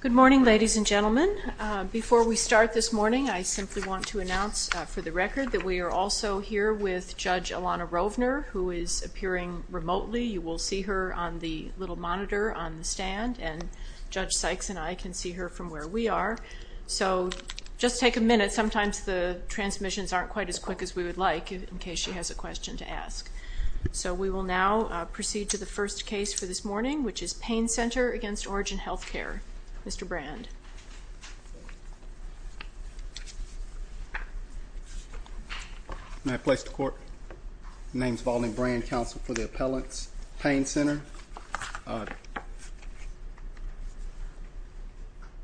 Good morning, ladies and gentlemen. Before we start this morning, I simply want to announce for the record that we are also here with Judge Alana Rovner, who is appearing remotely. You will see her on the little monitor on the stand, and Judge Sykes and I can see her from where we are. So just take a minute. Sometimes the transmissions aren't quite as quick as we would like, in case she has a question to ask. So we will now proceed to the first case for this morning, which is Payne Center v. Origin Healthcare. Mr. Brand. May I please the Court? My name is Vaulding Brand, counsel for the appellant's Payne Center.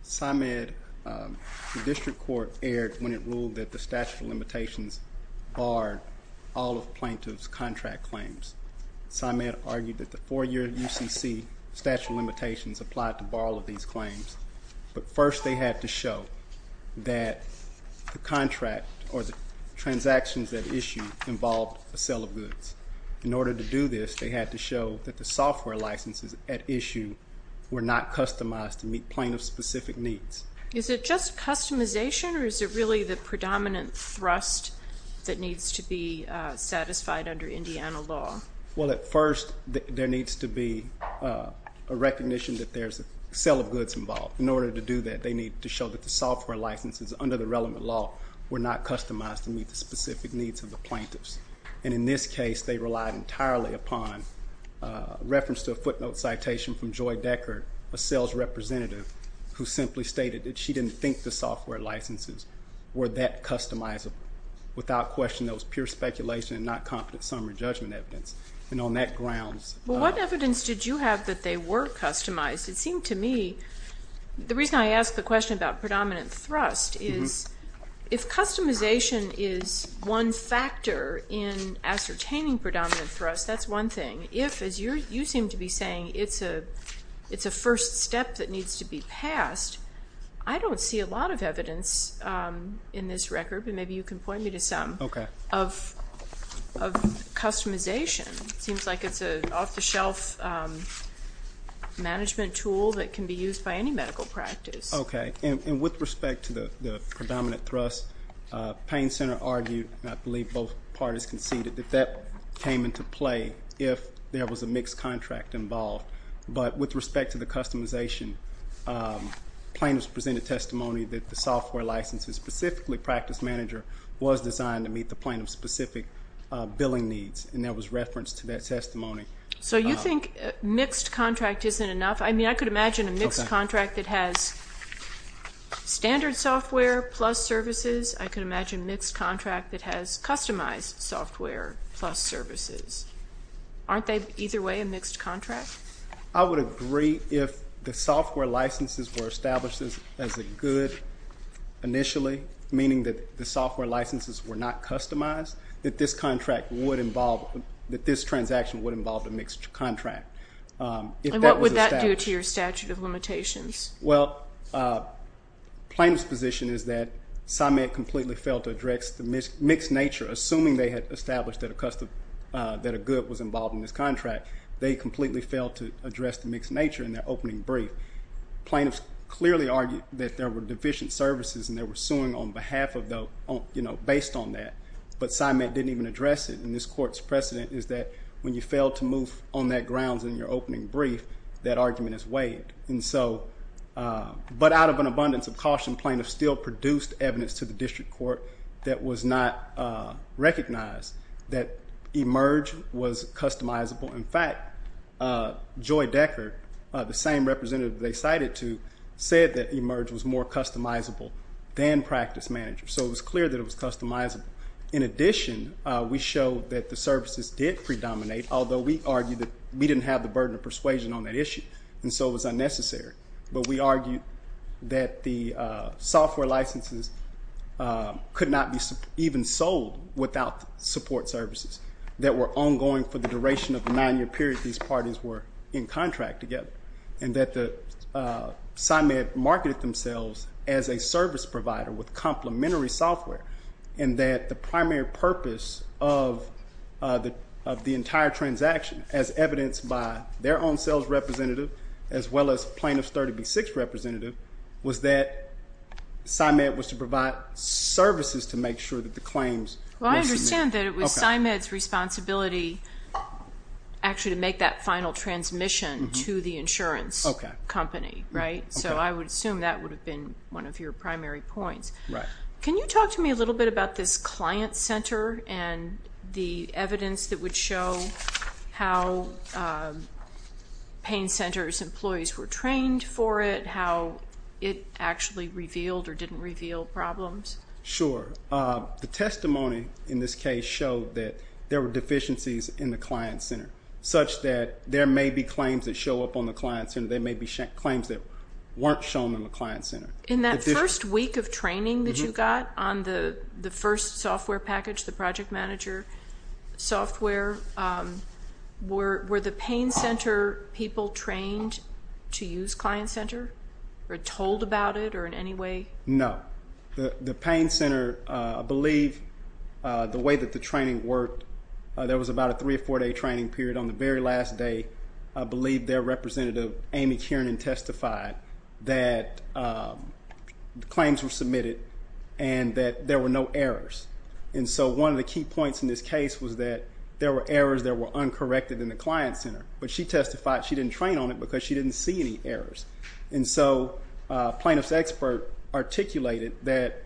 Symed, the district court, erred when it ruled that the statute of limitations barred all of plaintiffs' contract claims. Symed argued that the four-year UCC statute of limitations applied to all of these claims, but first they had to show that the contract or the transactions that issued involved a sale of goods. In order to do this, they had to show that the software licenses at issue were not customized to meet plaintiff's specific needs. Is it just customization, or is it really the predominant thrust that needs to be satisfied under Indiana law? Well, at first there needs to be a recognition that there's a sale of goods involved. In order to do that, they need to show that the software licenses under the relevant law were not customized to meet the specific needs of the plaintiffs. And in this case, they relied entirely upon a reference to a footnote citation from Joy Decker, a sales representative who simply stated that she didn't think the software licenses were that customizable. Without question, that was pure speculation and not competent summary judgment evidence. And on that grounds – Well, what evidence did you have that they were customized? The reason I ask the question about predominant thrust is if customization is one factor in ascertaining predominant thrust, that's one thing. If, as you seem to be saying, it's a first step that needs to be passed, I don't see a lot of evidence in this record, but maybe you can point me to some, of customization. It seems like it's an off-the-shelf management tool that can be used by any medical practice. Okay. And with respect to the predominant thrust, Payne Center argued, and I believe both parties conceded, that that came into play if there was a mixed contract involved. But with respect to the customization, plaintiffs presented testimony that the software licenses, and specifically practice manager, was designed to meet the plaintiff's specific billing needs, and there was reference to that testimony. So you think mixed contract isn't enough? I mean, I could imagine a mixed contract that has standard software plus services. I could imagine a mixed contract that has customized software plus services. Aren't they either way a mixed contract? I would agree if the software licenses were established as a good initially, meaning that the software licenses were not customized, that this contract would involve, that this transaction would involve a mixed contract. And what would that do to your statute of limitations? Well, plaintiff's position is that Simon completely failed to address the mixed nature. Assuming they had established that a good was involved in this contract, they completely failed to address the mixed nature in their opening brief. Plaintiffs clearly argued that there were deficient services, and they were suing based on that, but Simon didn't even address it. And this court's precedent is that when you fail to move on that grounds in your opening brief, that argument is waived. But out of an abundance of caution, plaintiffs still produced evidence to the district court that was not recognized that eMERGE was customizable. In fact, Joy Decker, the same representative they cited to, said that eMERGE was more customizable than practice manager. So it was clear that it was customizable. In addition, we showed that the services did predominate, although we argued that we didn't have the burden of persuasion on that issue, and so it was unnecessary. But we argued that the software licenses could not be even sold without support services that were ongoing for the duration of the nine-year period these parties were in contract together, and that Simon marketed themselves as a service provider with complementary software, and that the primary purpose of the entire transaction, as evidenced by their own sales representative as well as plaintiff's 30B6 representative, was that Simon was to provide services to make sure that the claims were submitted. Well, I understand that it was Simon's responsibility actually to make that final transmission to the insurance company, right? So I would assume that would have been one of your primary points. Can you talk to me a little bit about this client center and the evidence that would show how pain centers employees were trained for it, how it actually revealed or didn't reveal problems? Sure. The testimony in this case showed that there were deficiencies in the client center, such that there may be claims that show up on the client center. There may be claims that weren't shown in the client center. In that first week of training that you got on the first software package, the project manager software, were the pain center people trained to use client center or told about it or in any way? No. The pain center, I believe, the way that the training worked, there was about a three- or four-day training period. On the very last day, I believe their representative, Amy Kiernan, testified that claims were submitted and that there were no errors. And so one of the key points in this case was that there were errors that were uncorrected in the client center. But she testified she didn't train on it because she didn't see any errors. And so a plaintiff's expert articulated that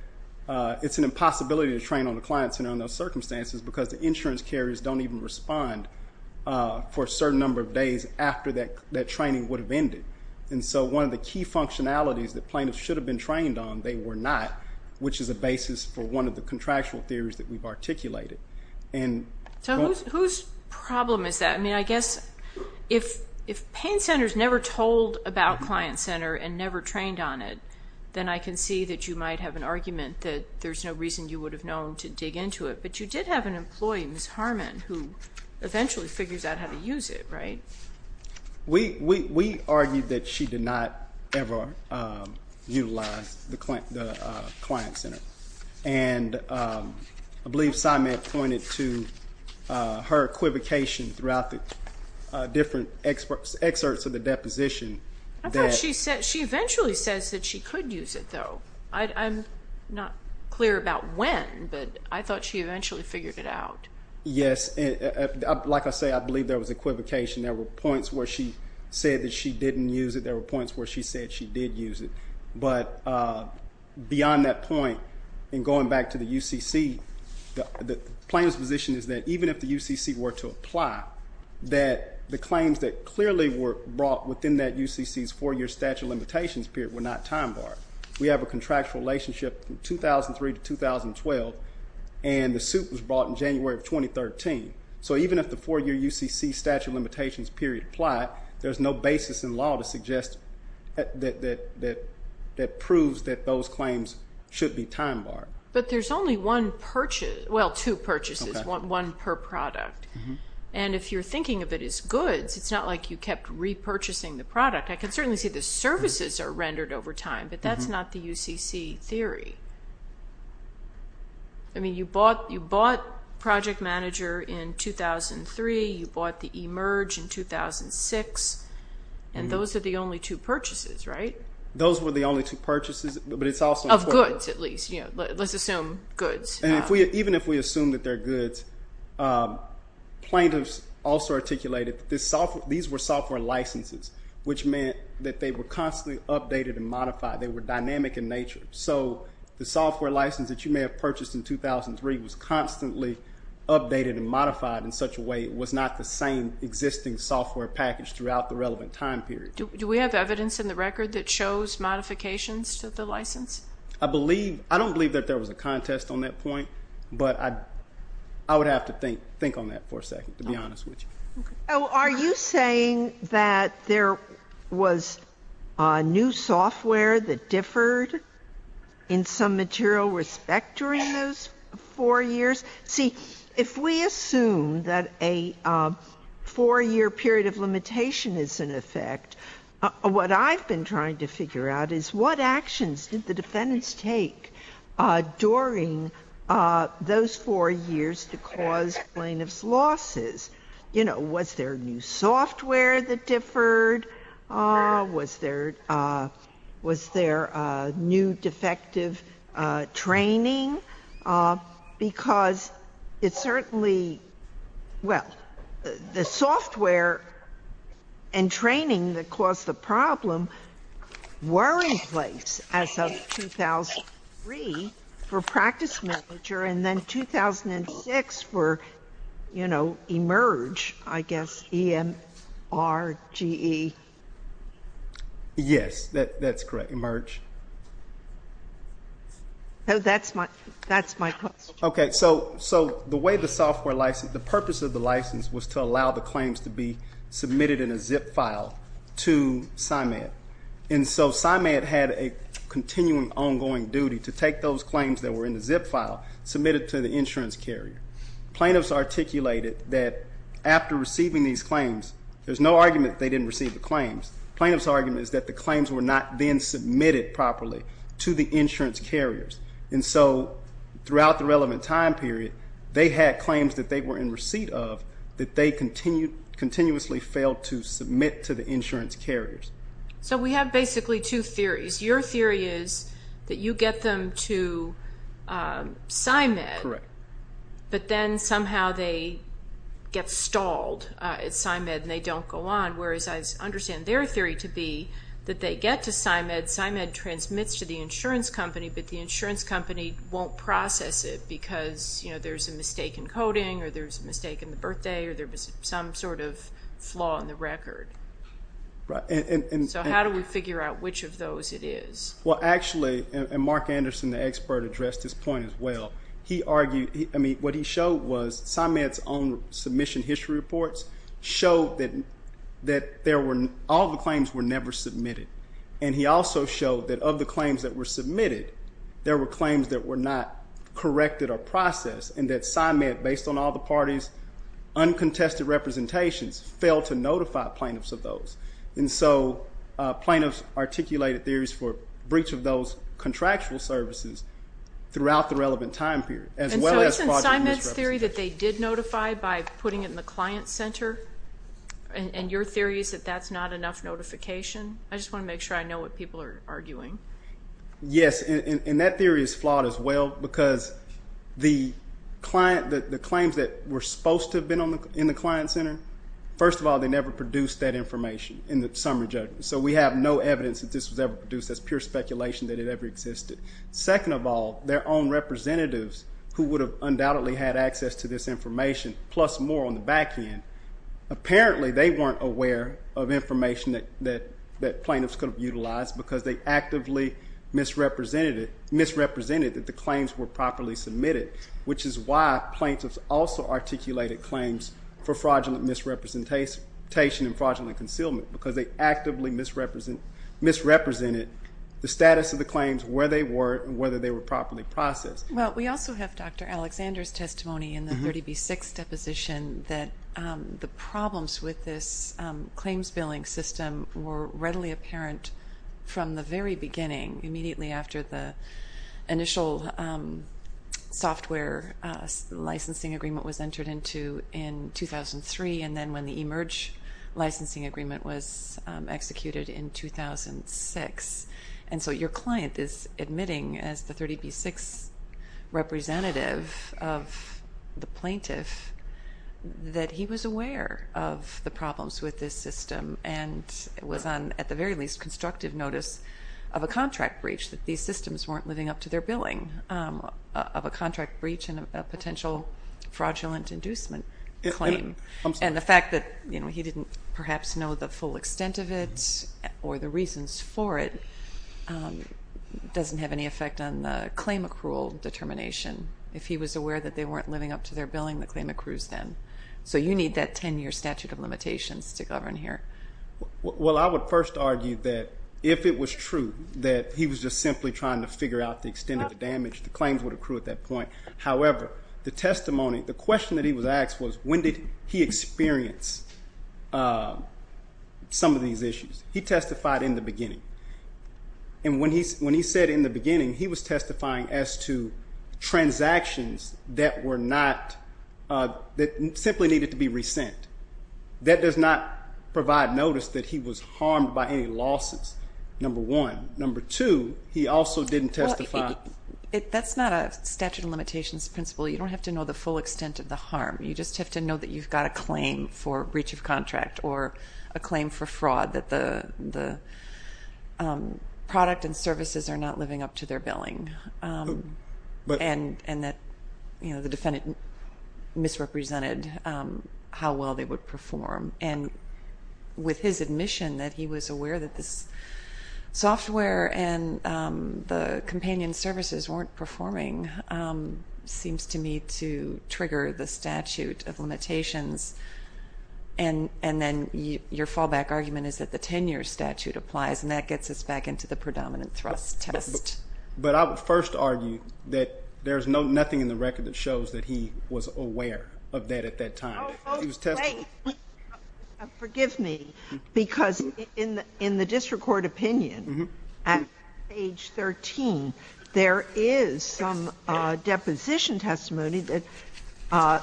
it's an impossibility to train on the client center under those circumstances because the insurance carriers don't even respond for a certain number of days after that training would have ended. And so one of the key functionalities that plaintiffs should have been trained on, they were not, which is a basis for one of the contractual theories that we've articulated. So whose problem is that? I mean, I guess if pain centers never told about client center and never trained on it, then I can see that you might have an argument that there's no reason you would have known to dig into it. But you did have an employee, Ms. Harmon, who eventually figures out how to use it, right? We argued that she did not ever utilize the client center. And I believe Simon pointed to her equivocation throughout the different excerpts of the deposition. I thought she eventually says that she could use it, though. I'm not clear about when, but I thought she eventually figured it out. Yes. Like I say, I believe there was equivocation. There were points where she said that she didn't use it. There were points where she said she did use it. But beyond that point, in going back to the UCC, the plaintiff's position is that even if the UCC were to apply, that the claims that clearly were brought within that UCC's four-year statute of limitations period were not time-barred. We have a contractual relationship from 2003 to 2012, and the suit was brought in January of 2013. So even if the four-year UCC statute of limitations period applied, there's no basis in law to suggest that proves that those claims should be time-barred. But there's only one purchase, well, two purchases, one per product. And if you're thinking of it as goods, it's not like you kept repurchasing the product. I can certainly see the services are rendered over time, but that's not the UCC theory. I mean, you bought Project Manager in 2003. You bought the eMERGE in 2006, and those are the only two purchases, right? Those were the only two purchases, but it's also important. Of goods, at least. Let's assume goods. And even if we assume that they're goods, plaintiffs also articulated that these were software licenses, which meant that they were constantly updated and modified. They were dynamic in nature. So the software license that you may have purchased in 2003 was constantly updated and modified in such a way it was not the same existing software package throughout the relevant time period. Do we have evidence in the record that shows modifications to the license? I don't believe that there was a contest on that point, but I would have to think on that for a second, to be honest with you. Are you saying that there was new software that differed in some material respect during those four years? See, if we assume that a four-year period of limitation is in effect, what I've been trying to figure out is what actions did the defendants take during those four years to cause plaintiffs' losses? You know, was there new software that differed? Was there new defective training? Because it certainly, well, the software and training that caused the problem were in place as of 2003 for practice manager and then 2006 for, you know, eMERGE, I guess, E-M-R-G-E. Yes, that's correct, eMERGE. No, that's my question. Okay. So the way the software license, the purpose of the license was to allow the claims to be submitted in a zip file to SIMAD. And so SIMAD had a continuing ongoing duty to take those claims that were in the zip file, submit it to the insurance carrier. Plaintiffs articulated that after receiving these claims, there's no argument that they didn't receive the claims. Plaintiff's argument is that the claims were not then submitted properly to the insurance carriers. And so throughout the relevant time period, they had claims that they were in receipt of that they continuously failed to submit to the insurance carriers. So we have basically two theories. Your theory is that you get them to SIMAD. Correct. But then somehow they get stalled at SIMAD and they don't go on. Whereas I understand their theory to be that they get to SIMAD, SIMAD transmits to the insurance company, but the insurance company won't process it because there's a mistake in coding or there's a mistake in the birthday or there was some sort of flaw in the record. So how do we figure out which of those it is? Well, actually, Mark Anderson, the expert, addressed this point as well. I mean, what he showed was SIMAD's own submission history reports showed that all the claims were never submitted. And he also showed that of the claims that were submitted, there were claims that were not corrected or processed, and that SIMAD, based on all the parties' uncontested representations, failed to notify plaintiffs of those. And so plaintiffs articulated theories for breach of those contractual services throughout the relevant time period, as well as project misrepresentation. And so isn't SIMAD's theory that they did notify by putting it in the client center? And your theory is that that's not enough notification? I just want to make sure I know what people are arguing. Yes, and that theory is flawed as well because the claims that were supposed to have been in the client center, first of all, they never produced that information in the summary judgment. So we have no evidence that this was ever produced. That's pure speculation that it ever existed. Second of all, their own representatives, who would have undoubtedly had access to this information, plus more on the back end, apparently they weren't aware of information that plaintiffs could have utilized because they actively misrepresented that the claims were properly submitted, which is why plaintiffs also articulated claims for fraudulent misrepresentation and fraudulent concealment because they actively misrepresented the status of the claims, where they were, and whether they were properly processed. Well, we also have Dr. Alexander's testimony in the 30B6 deposition that the problems with this claims billing system were readily apparent from the very beginning, immediately after the initial software licensing agreement was entered into in 2003 and then when the eMERGE licensing agreement was executed in 2006. And so your client is admitting as the 30B6 representative of the plaintiff that he was aware of the problems with this system and was on, at the very least, constructive notice of a contract breach, that these systems weren't living up to their billing of a contract breach and a potential fraudulent inducement claim. And the fact that he didn't perhaps know the full extent of it or the reasons for it doesn't have any effect on the claim accrual determination. If he was aware that they weren't living up to their billing, the claim accrues then. So you need that 10-year statute of limitations to govern here. Well, I would first argue that if it was true that he was just simply trying to figure out the extent of the damage, the claims would accrue at that point. However, the testimony, the question that he was asked was when did he experience some of these issues. He testified in the beginning. And when he said in the beginning, he was testifying as to transactions that were not, that simply needed to be resent. That does not provide notice that he was harmed by any losses, number one. Number two, he also didn't testify. That's not a statute of limitations principle. You don't have to know the full extent of the harm. You just have to know that you've got a claim for breach of contract or a claim for fraud, that the product and services are not living up to their billing, and that the defendant misrepresented how well they would perform. And with his admission that he was aware that this software and the companion services weren't performing seems to me to trigger the statute of limitations. And then your fallback argument is that the 10-year statute applies, and that gets us back into the predominant thrust test. But I would first argue that there's nothing in the record that shows that he was aware of that at that time. He was testifying. Oh, wait. Forgive me, because in the district court opinion, at page 13, there is some deposition testimony that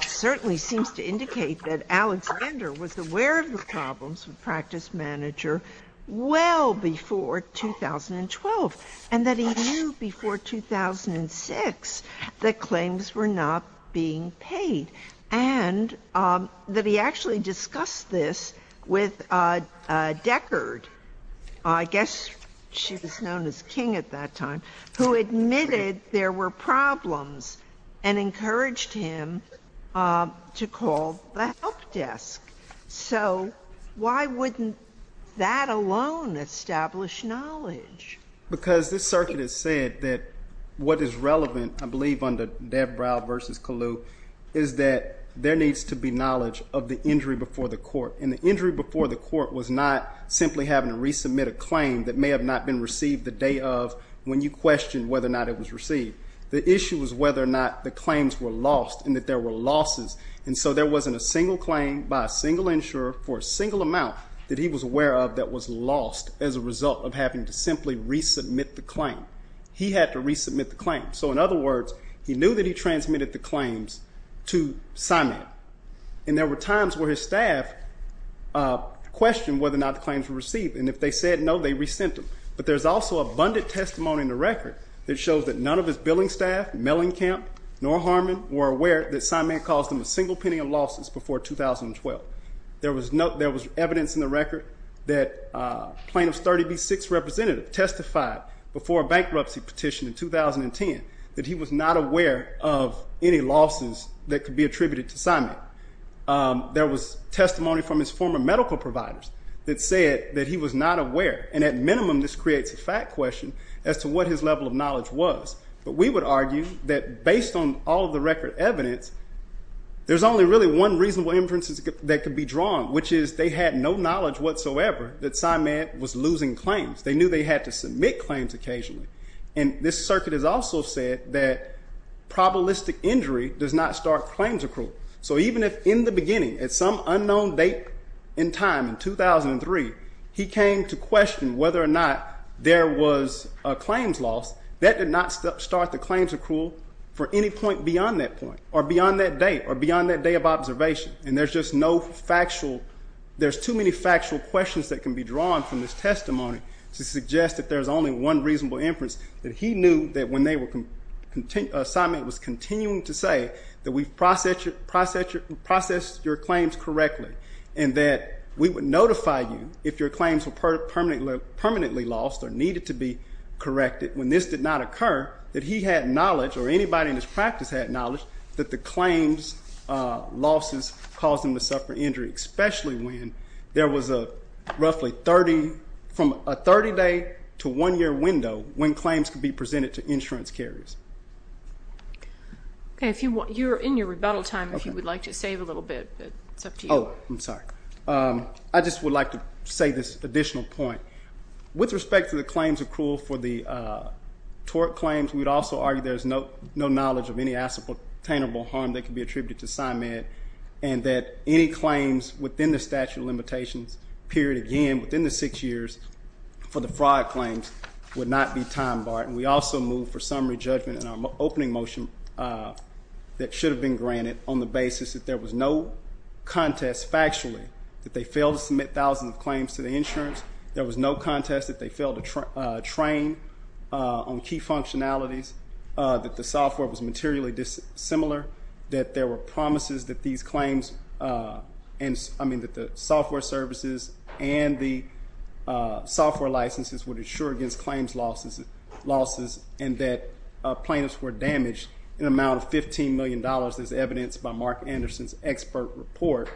certainly seems to indicate that Alex Bender was aware of the problems with Practice Manager well before 2012, and that he knew before 2006 that claims were not being paid. And that he actually discussed this with Deckard. I guess she was known as King at that time, who admitted there were problems and encouraged him to call the help desk. So why wouldn't that alone establish knowledge? Because this circuit has said that what is relevant, I believe, under Dabrow v. Kalu, is that there needs to be knowledge of the injury before the court. And the injury before the court was not simply having to resubmit a claim that may have not been received the day of when you questioned whether or not it was received. The issue was whether or not the claims were lost and that there were losses. And so there wasn't a single claim by a single insurer for a single amount that he was aware of that was lost as a result of having to simply resubmit the claim. He had to resubmit the claim. So, in other words, he knew that he transmitted the claims to Simon. And there were times where his staff questioned whether or not the claims were received. And if they said no, they resent them. But there's also abundant testimony in the record that shows that none of his billing staff, Mellencamp nor Harmon, were aware that Simon caused him a single penny of losses before 2012. There was evidence in the record that plaintiff's 30B-6 representative testified before a bankruptcy petition in 2010 that he was not aware of any losses that could be attributed to Simon. There was testimony from his former medical providers that said that he was not aware. And at minimum, this creates a fact question as to what his level of knowledge was. But we would argue that based on all of the record evidence, there's only really one reasonable inference that could be drawn, which is they had no knowledge whatsoever that Simon was losing claims. They knew they had to submit claims occasionally. And this circuit has also said that probabilistic injury does not start claims accrual. So even if in the beginning, at some unknown date and time, in 2003, he came to question whether or not there was a claims loss, that did not start the claims accrual for any point beyond that point, or beyond that date, or beyond that day of observation. And there's just no factual – there's too many factual questions that can be drawn from this testimony to suggest that there's only one reasonable inference, that he knew that when Simon was continuing to say that we've processed your claims correctly and that we would notify you if your claims were permanently lost or needed to be corrected when this did not occur, that he had knowledge, or anybody in his practice had knowledge, that the claims losses caused him to suffer injury, especially when there was a roughly 30 – from a 30-day to one-year window when claims could be presented to insurance carriers. Okay. You're in your rebuttal time if you would like to save a little bit, but it's up to you. Oh, I'm sorry. I just would like to say this additional point. With respect to the claims accrual for the tort claims, we would also argue there's no knowledge of any ascertainable harm that could be attributed to Simon and that any claims within the statute of limitations period again, within the six years, for the fraud claims would not be time-barred. And we also move for summary judgment in our opening motion that should have been granted on the basis that there was no contest factually, that they failed to submit thousands of claims to the insurance, there was no contest that they failed to train on key functionalities, that the software was materially dissimilar, that there were promises that these claims, I mean that the software services and the software licenses would insure against claims losses and that plaintiffs were damaged in amount of $15 million as evidenced by Mark Anderson's expert report,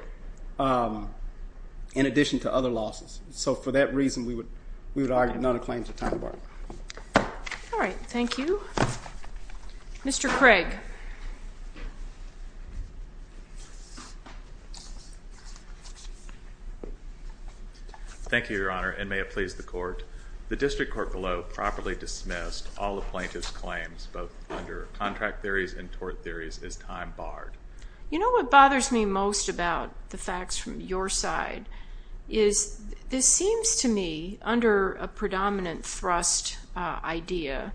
in addition to other losses. So for that reason, we would argue none of the claims are time-barred. All right. Thank you. Mr. Craig. Thank you, Your Honor, and may it please the court. The district court below properly dismissed all the plaintiff's claims, both under contract theories and tort theories, as time-barred. You know what bothers me most about the facts from your side is this seems to me, under a predominant thrust idea,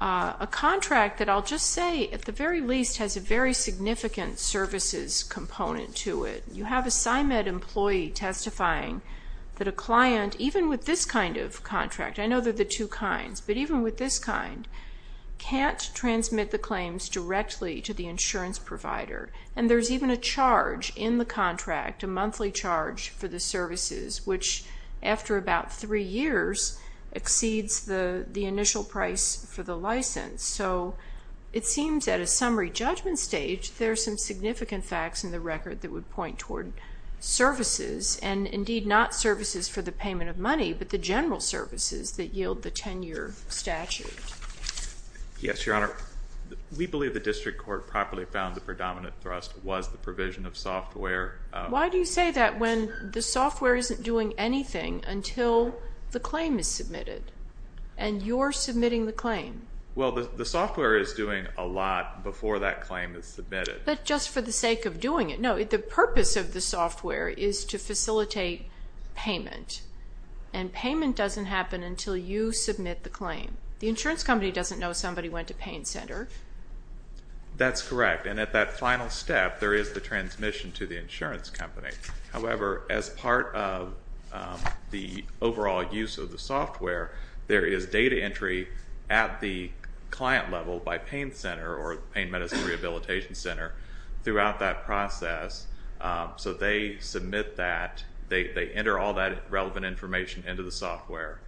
a contract that I'll just say, at the very least, has a very significant services component to it. You have a PsyMed employee testifying that a client, even with this kind of contract, I know they're the two kinds, but even with this kind, can't transmit the claims directly to the insurance provider. And there's even a charge in the contract, a monthly charge for the services, which after about three years exceeds the initial price for the license. So it seems at a summary judgment stage, there are some significant facts in the record that would point toward services, and indeed not services for the payment of money, but the general services that yield the 10-year statute. Yes, Your Honor. We believe the district court properly found the predominant thrust was the provision of software. Why do you say that when the software isn't doing anything until the claim is submitted and you're submitting the claim? Well, the software is doing a lot before that claim is submitted. But just for the sake of doing it. No, the purpose of the software is to facilitate payment. And payment doesn't happen until you submit the claim. The insurance company doesn't know somebody went to pain center. That's correct. And at that final step, there is the transmission to the insurance company. However, as part of the overall use of the software, there is data entry at the client level by pain center or pain medicine rehabilitation center throughout that process. So they submit that. They enter all that relevant information into the software.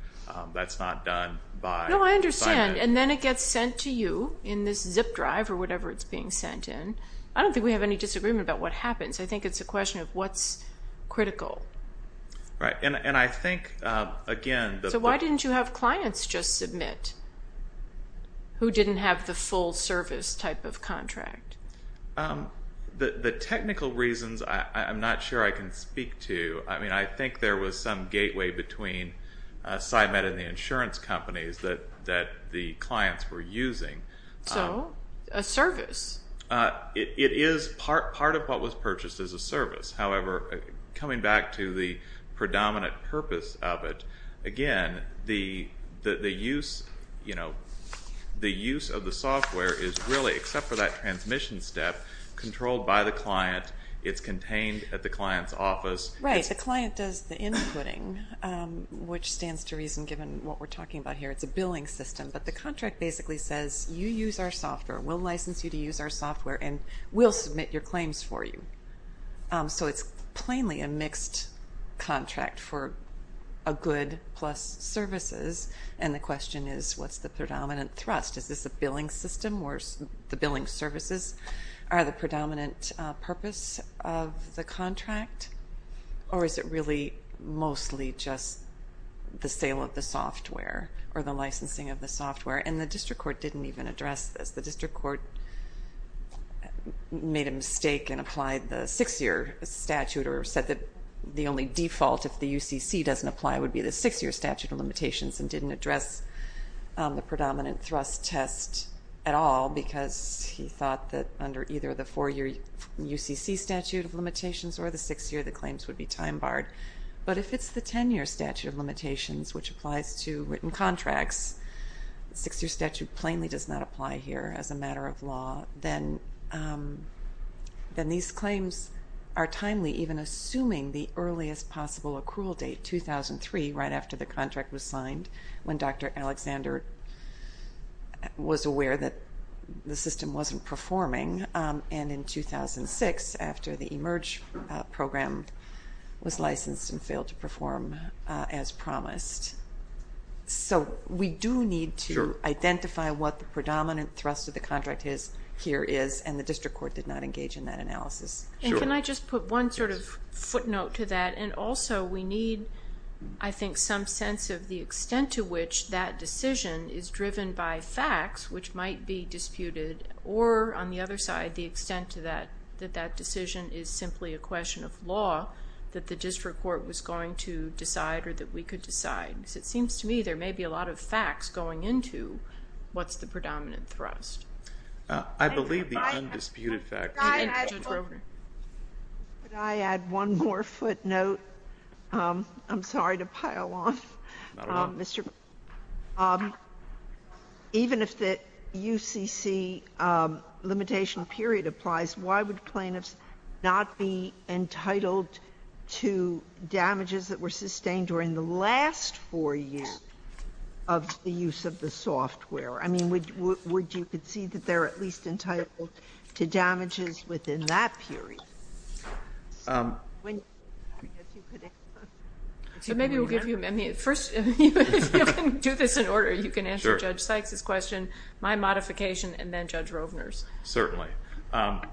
That's not done by payment. No, I understand. And then it gets sent to you in this zip drive or whatever it's being sent in. I don't think we have any disagreement about what happens. I think it's a question of what's critical. Right. And I think, again, the... The technical reasons, I'm not sure I can speak to. I mean, I think there was some gateway between SciMed and the insurance companies that the clients were using. So a service. It is part of what was purchased as a service. However, coming back to the predominant purpose of it, again, the use of the software is really, except for that transmission step, controlled by the client. It's contained at the client's office. Right. The client does the inputting, which stands to reason given what we're talking about here. It's a billing system. But the contract basically says you use our software. We'll license you to use our software, and we'll submit your claims for you. So it's plainly a mixed contract for a good plus services. And the question is, what's the predominant thrust? Is this a billing system or the billing services are the predominant purpose of the contract? Or is it really mostly just the sale of the software or the licensing of the software? And the district court didn't even address this. The district court made a mistake and applied the 6-year statute or said that the only default, if the UCC doesn't apply, would be the 6-year statute of limitations and didn't address the predominant thrust test at all because he thought that under either the 4-year UCC statute of limitations or the 6-year, the claims would be time-barred. But if it's the 10-year statute of limitations, which applies to written contracts, the 6-year statute plainly does not apply here as a matter of law, then these claims are timely, even assuming the earliest possible accrual date, 2003, right after the contract was signed, when Dr. Alexander was aware that the system wasn't performing. And in 2006, after the eMERGE program was licensed and failed to perform as promised. So we do need to identify what the predominant thrust of the contract here is, and the district court did not engage in that analysis. And can I just put one sort of footnote to that? And also we need, I think, some sense of the extent to which that decision is driven by facts, which might be disputed, or on the other side, the extent to that, that that decision is simply a question of law, that the district court was going to decide or that we could decide. Because it seems to me there may be a lot of facts going into what's the predominant thrust. I believe the undisputed fact. Could I add one more footnote? I'm sorry to pile on. Not at all. Even if the UCC limitation period applies, why would plaintiffs not be entitled to damages that were sustained during the last four years of the use of the software? I mean, would you concede that they're at least entitled to damages within that period? So maybe we'll give you a minute. First, if you can do this in order, you can answer Judge Sykes' question, my modification, and then Judge Rovner's. Certainly.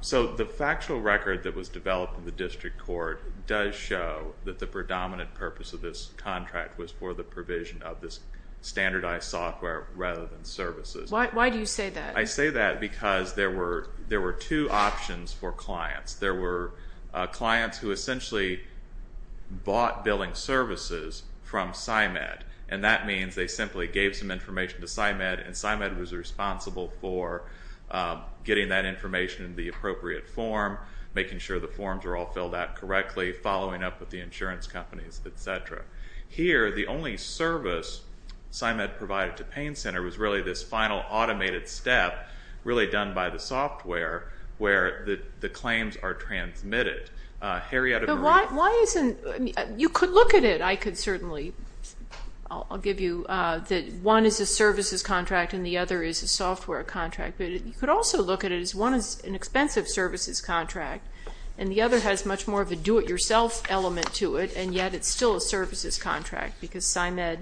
So the factual record that was developed in the district court does show that the predominant purpose of this contract was for the provision of this standardized software rather than services. Why do you say that? I say that because there were two options for clients. There were clients who essentially bought billing services from SCIMED, and that means they simply gave some information to SCIMED, and SCIMED was responsible for getting that information in the appropriate form, making sure the forms were all filled out correctly, following up with the insurance companies, et cetera. Here, the only service SCIMED provided to Payne Center was really this final automated step, really done by the software, where the claims are transmitted. You could look at it. I could certainly give you that one is a services contract and the other is a software contract, but you could also look at it as one is an expensive services contract and the other has much more of a do-it-yourself element to it, and yet it's still a services contract because SCIMED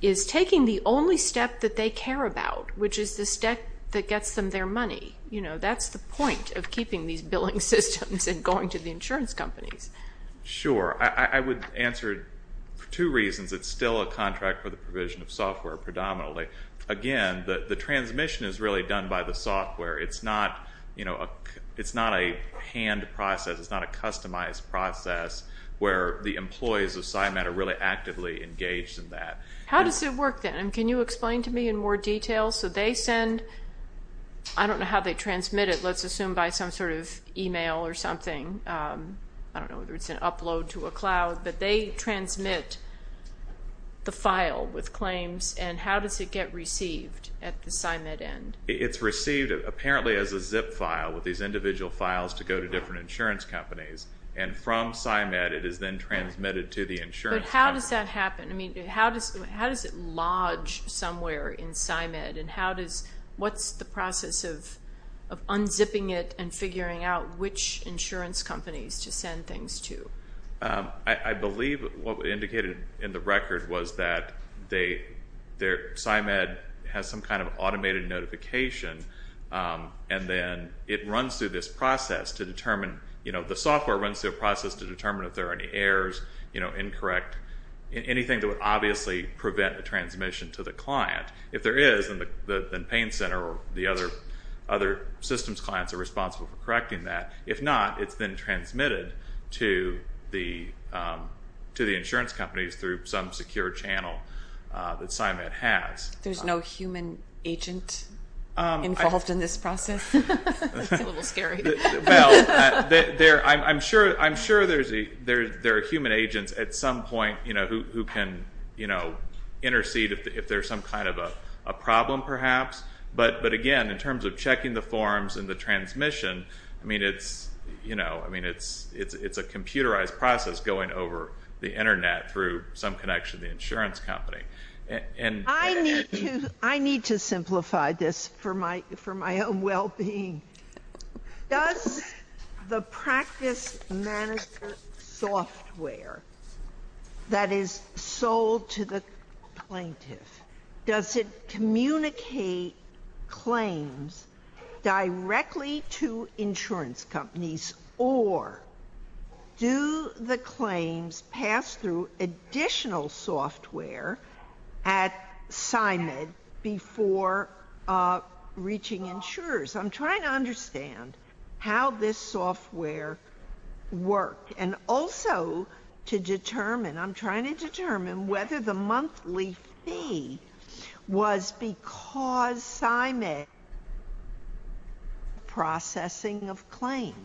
is taking the only step that they care about, which is the step that gets them their money. That's the point of keeping these billing systems and going to the insurance companies. Sure. I would answer it for two reasons. It's still a contract for the provision of software predominantly. Again, the transmission is really done by the software. It's not a hand process. It's not a customized process where the employees of SCIMED are really actively engaged in that. How does it work then? Can you explain to me in more detail? So they send – I don't know how they transmit it. Let's assume by some sort of email or something. I don't know whether it's an upload to a cloud, but they transmit the file with claims, and how does it get received at the SCIMED end? It's received apparently as a zip file with these individual files to go to different insurance companies, and from SCIMED it is then transmitted to the insurance company. But how does that happen? How does it lodge somewhere in SCIMED, and what's the process of unzipping it and figuring out which insurance companies to send things to? I believe what was indicated in the record was that SCIMED has some kind of automated notification, and then it runs through this process to determine – the software runs through a process to determine if there are any errors, incorrect, anything that would obviously prevent the transmission to the client. If there is, then Payne Center or the other systems clients are responsible for correcting that. If not, it's then transmitted to the insurance companies through some secure channel that SCIMED has. There's no human agent involved in this process? That's a little scary. Well, I'm sure there are human agents at some point who can intercede if there's some kind of a problem, perhaps. But again, in terms of checking the forms and the transmission, it's a computerized process going over the Internet through some connection to the insurance company. I need to simplify this for my own well-being. Does the practice manager software that is sold to the plaintiff, does it communicate claims directly to insurance companies or do the claims pass through additional software at SCIMED before reaching insurers? I'm trying to understand how this software works and also to determine, I'm trying to determine whether the monthly fee was because SCIMED was processing of claims.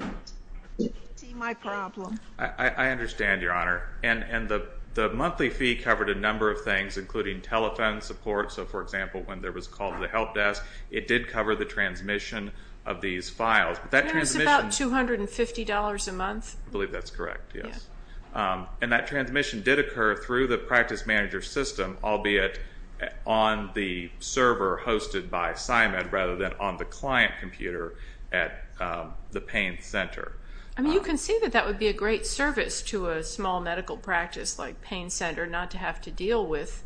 Do you see my problem? I understand, Your Honor, and the monthly fee covered a number of things, including telephone support. So, for example, when there was a call to the help desk, it did cover the transmission of these files. It was about $250 a month. I believe that's correct, yes. And that transmission did occur through the practice manager system, albeit on the server hosted by SCIMED rather than on the client computer at the pain center. You can see that that would be a great service to a small medical practice like pain center, not to have to deal with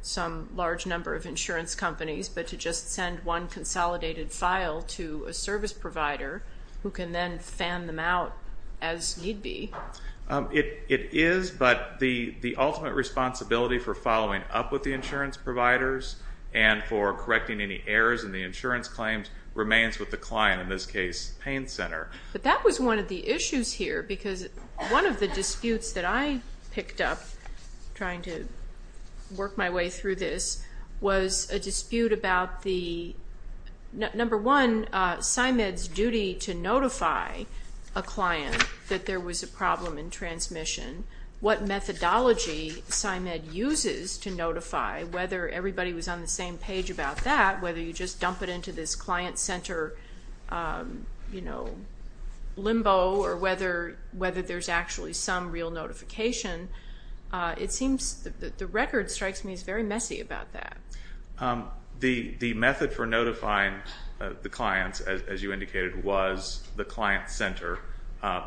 some large number of insurance companies but to just send one consolidated file to a service provider who can then fan them out as need be. It is, but the ultimate responsibility for following up with the insurance providers and for correcting any errors in the insurance claims remains with the client, in this case pain center. But that was one of the issues here because one of the disputes that I picked up trying to work my way through this was a dispute about the, number one, SCIMED's duty to notify a client that there was a problem in transmission, what methodology SCIMED uses to notify, whether everybody was on the same page about that, whether you just dump it into this client center limbo or whether there's actually some real notification. The record strikes me as very messy about that. The method for notifying the clients, as you indicated, was the client center.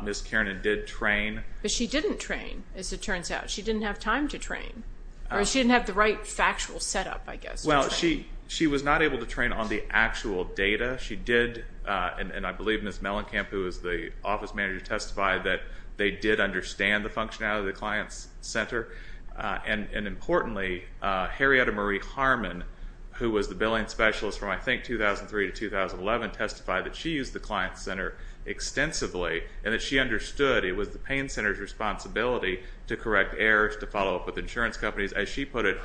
Ms. Kiernan did train. But she didn't train, as it turns out. She didn't have time to train, or she didn't have the right factual setup, I guess. Well, she was not able to train on the actual data. She did, and I believe Ms. Mellencamp, who is the office manager, testified that they did understand the functionality of the client center. And importantly, Harrietta Marie Harmon, who was the billing specialist from, I think, 2003 to 2011, testified that she used the client center extensively and that she understood it was the pain center's responsibility to correct errors, to follow up with insurance companies. As she put it,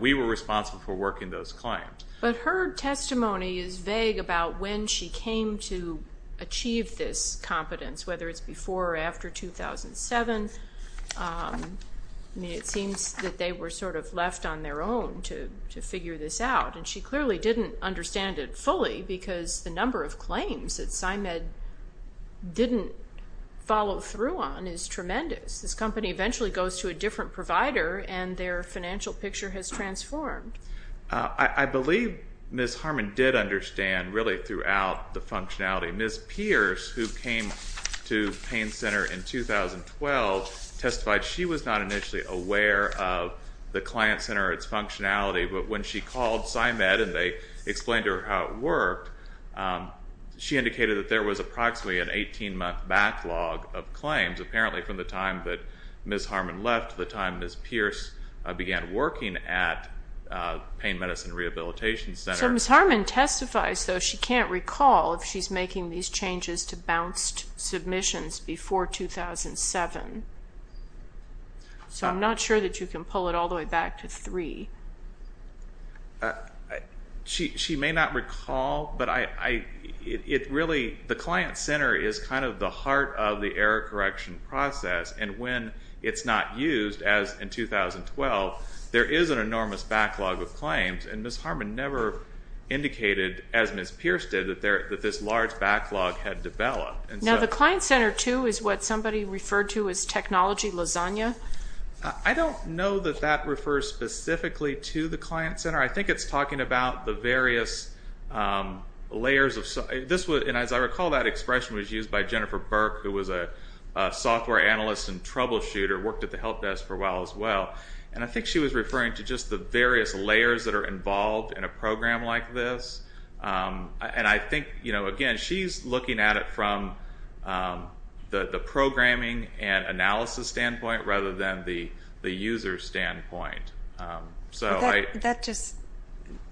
we were responsible for working those clients. But her testimony is vague about when she came to achieve this competence, whether it's before or after 2007. I mean, it seems that they were sort of left on their own to figure this out, and she clearly didn't understand it fully because the number of claims that PsyMed didn't follow through on is tremendous. This company eventually goes to a different provider, and their financial picture has transformed. I believe Ms. Harmon did understand, really, throughout the functionality. Ms. Pierce, who came to pain center in 2012, testified she was not initially aware of the client center, its functionality, but when she called PsyMed and they explained to her how it worked, she indicated that there was approximately an 18-month backlog of claims, apparently from the time that Ms. Harmon left to the time Ms. Pierce began working at Pain Medicine Rehabilitation Center. So Ms. Harmon testifies, though, that she can't recall if she's making these changes to bounced submissions before 2007. So I'm not sure that you can pull it all the way back to 3. She may not recall, but really, the client center is kind of the heart of the error correction process, and when it's not used, as in 2012, there is an enormous backlog of claims, and Ms. Harmon never indicated, as Ms. Pierce did, that this large backlog had developed. Now, the client center, too, is what somebody referred to as technology lasagna? I don't know that that refers specifically to the client center. I think it's talking about the various layers of... And as I recall, that expression was used by Jennifer Burke, who was a software analyst and troubleshooter, worked at the help desk for a while as well, and I think she was referring to just the various layers that are involved in a program like this. And I think, again, she's looking at it from the programming and analysis standpoint rather than the user standpoint. That just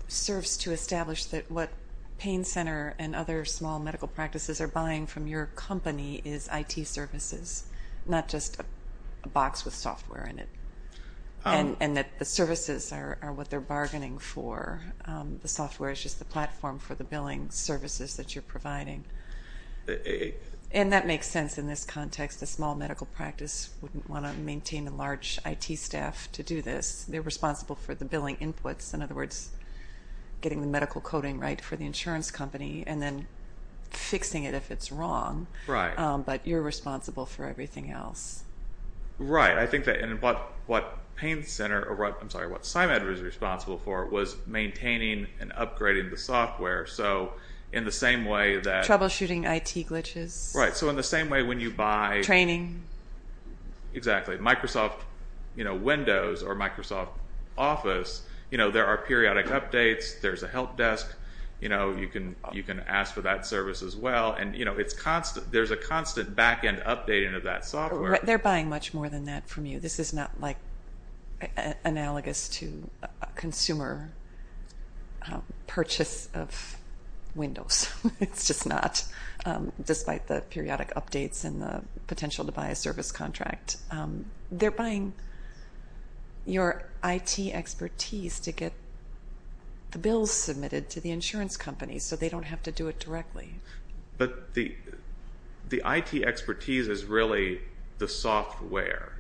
serves to establish that what pain center and other small medical practices are buying from your company is IT services, not just a box with software in it, and that the services are what they're bargaining for. The software is just the platform for the billing services that you're providing. And that makes sense in this context. A small medical practice wouldn't want to maintain a large IT staff to do this. They're responsible for the billing inputs, in other words, getting the medical coding right for the insurance company, and then fixing it if it's wrong. But you're responsible for everything else. Right, I think that what pain center, I'm sorry, what PsyMed was responsible for was maintaining and upgrading the software. So in the same way that... Troubleshooting IT glitches. Right, so in the same way when you buy... Training. Exactly. Microsoft Windows or Microsoft Office, there are periodic updates, there's a help desk, you can ask for that service as well, and there's a constant back-end updating of that software. They're buying much more than that from you. This is not analogous to a consumer purchase of Windows. It's just not, despite the periodic updates and the potential to buy a service contract. They're buying your IT expertise to get the bills submitted to the insurance company so they don't have to do it directly. But the IT expertise is really the software.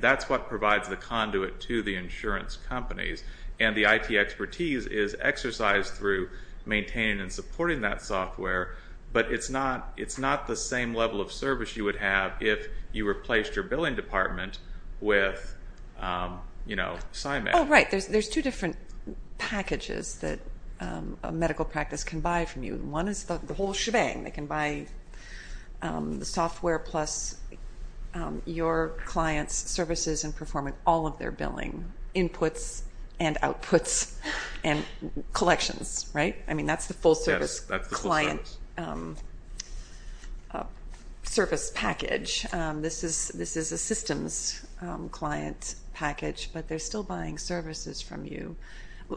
That's what provides the conduit to the insurance companies. And the IT expertise is exercised through maintaining and supporting that software, but it's not the same level of service you would have if you replaced your billing department with PsyMed. Oh, right, there's two different packages that a medical practice can buy from you. One is the whole shebang. They can buy the software plus your client's services and perform all of their billing, inputs and outputs and collections, right? I mean, that's the full-service client service package. This is a systems client package, but they're still buying services from you.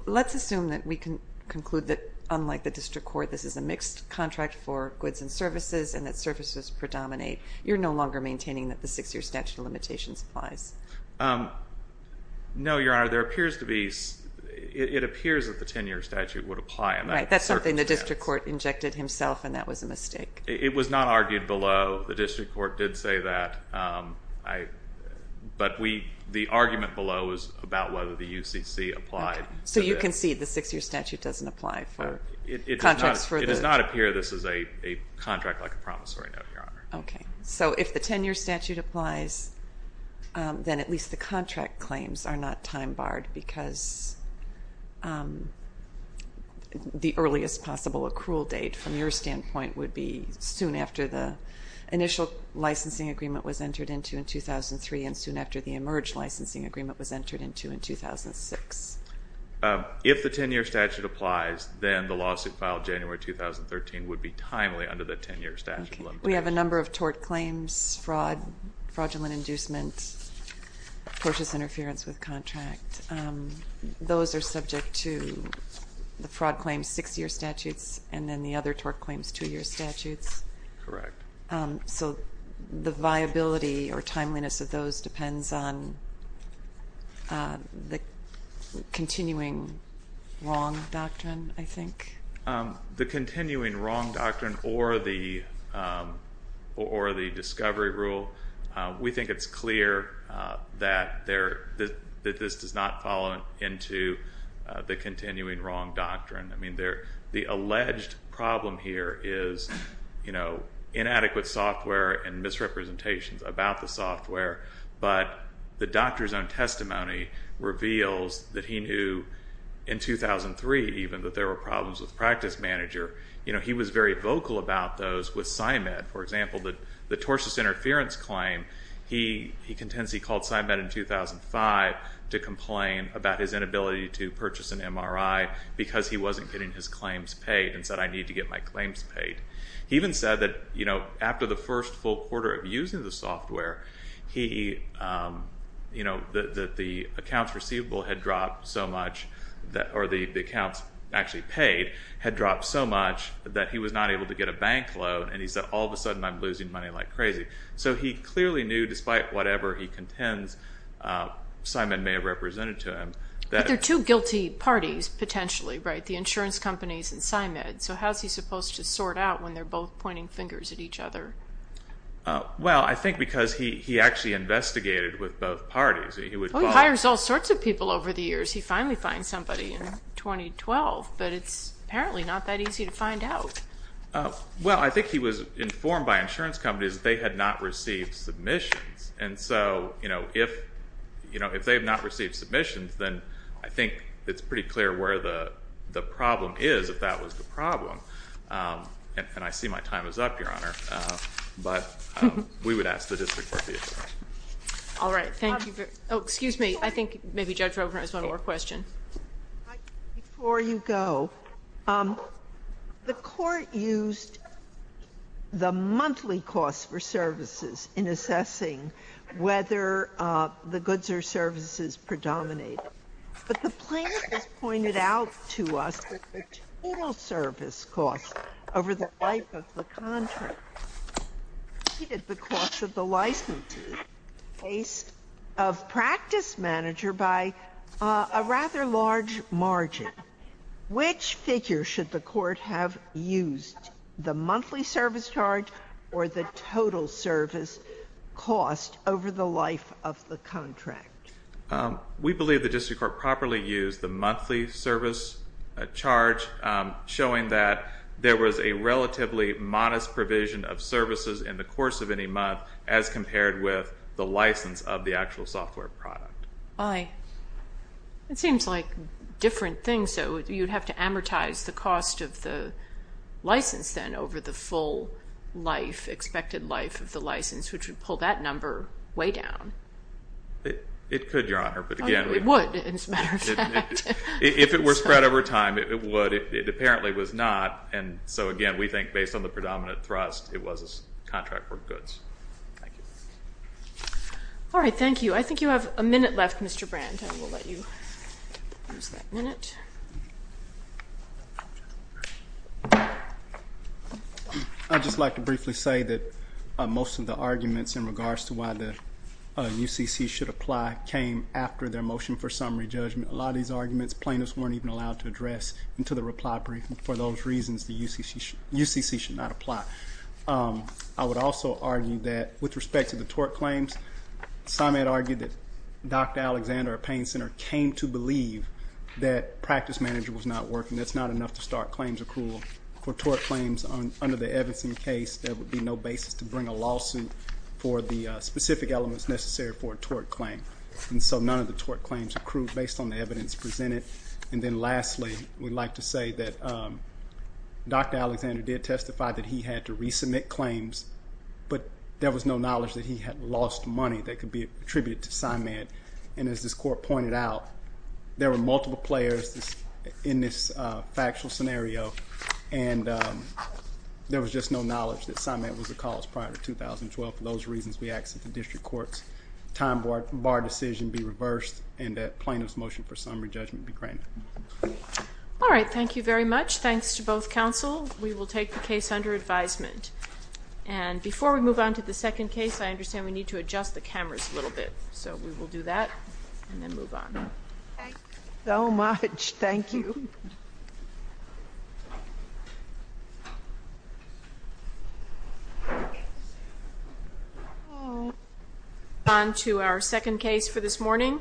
Let's assume that we can conclude that, like the district court, this is a mixed contract for goods and services and that services predominate. You're no longer maintaining that the 6-year statute of limitations applies. No, Your Honor, it appears that the 10-year statute would apply. Right, that's something the district court injected himself, and that was a mistake. It was not argued below. The district court did say that, but the argument below was about whether the UCC applied. So you concede the 6-year statute doesn't apply for contracts? It does not appear this is a contract like a promissory note, Your Honor. Okay, so if the 10-year statute applies, then at least the contract claims are not time-barred because the earliest possible accrual date, from your standpoint, would be soon after the initial licensing agreement was entered into in 2003 and soon after the emerged licensing agreement was entered into in 2006. If the 10-year statute applies, then the lawsuit filed January 2013 would be timely under the 10-year statute. We have a number of tort claims, fraud, fraudulent inducement, tortious interference with contract. Those are subject to the fraud claims 6-year statutes and then the other tort claims 2-year statutes. Correct. So the viability or timeliness of those depends on the continuing wrong doctrine, I think? The continuing wrong doctrine or the discovery rule, we think it's clear that this does not follow into the continuing wrong doctrine. I mean, the alleged problem here is inadequate software and misrepresentations about the software, but the doctor's own testimony reveals that he knew in 2003 even that there were problems with practice manager. He was very vocal about those with PsyMed. For example, the tortious interference claim, he contends he called PsyMed in 2005 to complain about his inability to purchase an MRI because he wasn't getting his claims paid and said I need to get my claims paid. He even said that after the first full quarter of using the software, the accounts receivable had dropped so much or the accounts actually paid had dropped so much that he was not able to get a bank loan and he said all of a sudden I'm losing money like crazy. So he clearly knew despite whatever he contends PsyMed may have represented to him. There are two guilty parties potentially, right? The insurance companies and PsyMed. So how is he supposed to sort out when they're both pointing fingers at each other? Well, I think because he actually investigated with both parties. He hires all sorts of people over the years. He finally finds somebody in 2012, but it's apparently not that easy to find out. Well, I think he was informed by insurance companies that they had not received submissions. And so if they have not received submissions, then I think it's pretty clear where the problem is if that was the problem. And I see my time is up, Your Honor, but we would ask the district court to be informed. All right. Thank you. Oh, excuse me. I think maybe Judge Roberts has one more question. Before you go, the court used the monthly cost for services in assessing whether the goods or services predominated. But the plaintiff has pointed out to us that the total service cost over the life of the contract exceeded the cost of the licensee in the case of practice manager by a rather large margin, which figure should the court have used, the monthly service charge or the total service cost over the life of the contract? We believe the district court properly used the monthly service charge, showing that there was a relatively modest provision of services in the course of any month as compared with the license of the actual software product. Aye. It seems like different things, so you'd have to amortize the cost of the license, then, over the full life, expected life of the license, which would pull that number way down. It could, Your Honor. It would, as a matter of fact. If it were spread over time, it would. It apparently was not, and so, again, we think based on the predominant thrust, it was contract for goods. Thank you. All right. Thank you. I think you have a minute left, Mr. Brandt, and we'll let you use that minute. I'd just like to briefly say that most of the arguments in regards to why the UCC should apply came after their motion for summary judgment. A lot of these arguments plaintiffs weren't even allowed to address into the reply briefing for those reasons the UCC should not apply. I would also argue that with respect to the tort claims, some had argued that Dr. Alexander at Payne Center came to believe that practice manager was not working. That's not enough to start claims accrual. For tort claims under the Evanston case, there would be no basis to bring a lawsuit for the specific elements necessary for a tort claim, and so none of the tort claims accrued based on the evidence presented. And then, lastly, we'd like to say that Dr. Alexander did testify that he had to resubmit claims, but there was no knowledge that he had lost money that could be attributed to Simon. And as this court pointed out, there were multiple players in this factual scenario, and there was just no knowledge that Simon was the cause prior to 2012. For those reasons, we ask that the district court's time bar decision be reversed and that plaintiff's motion for summary judgment be granted. All right. Thank you very much. Thanks to both counsel. We will take the case under advisement. And before we move on to the second case, I understand we need to adjust the cameras a little bit, so we will do that and then move on. Thank you so much. Thank you. We'll move on to our second case for this morning,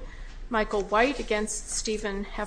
Michael White against Stephen Heffernan.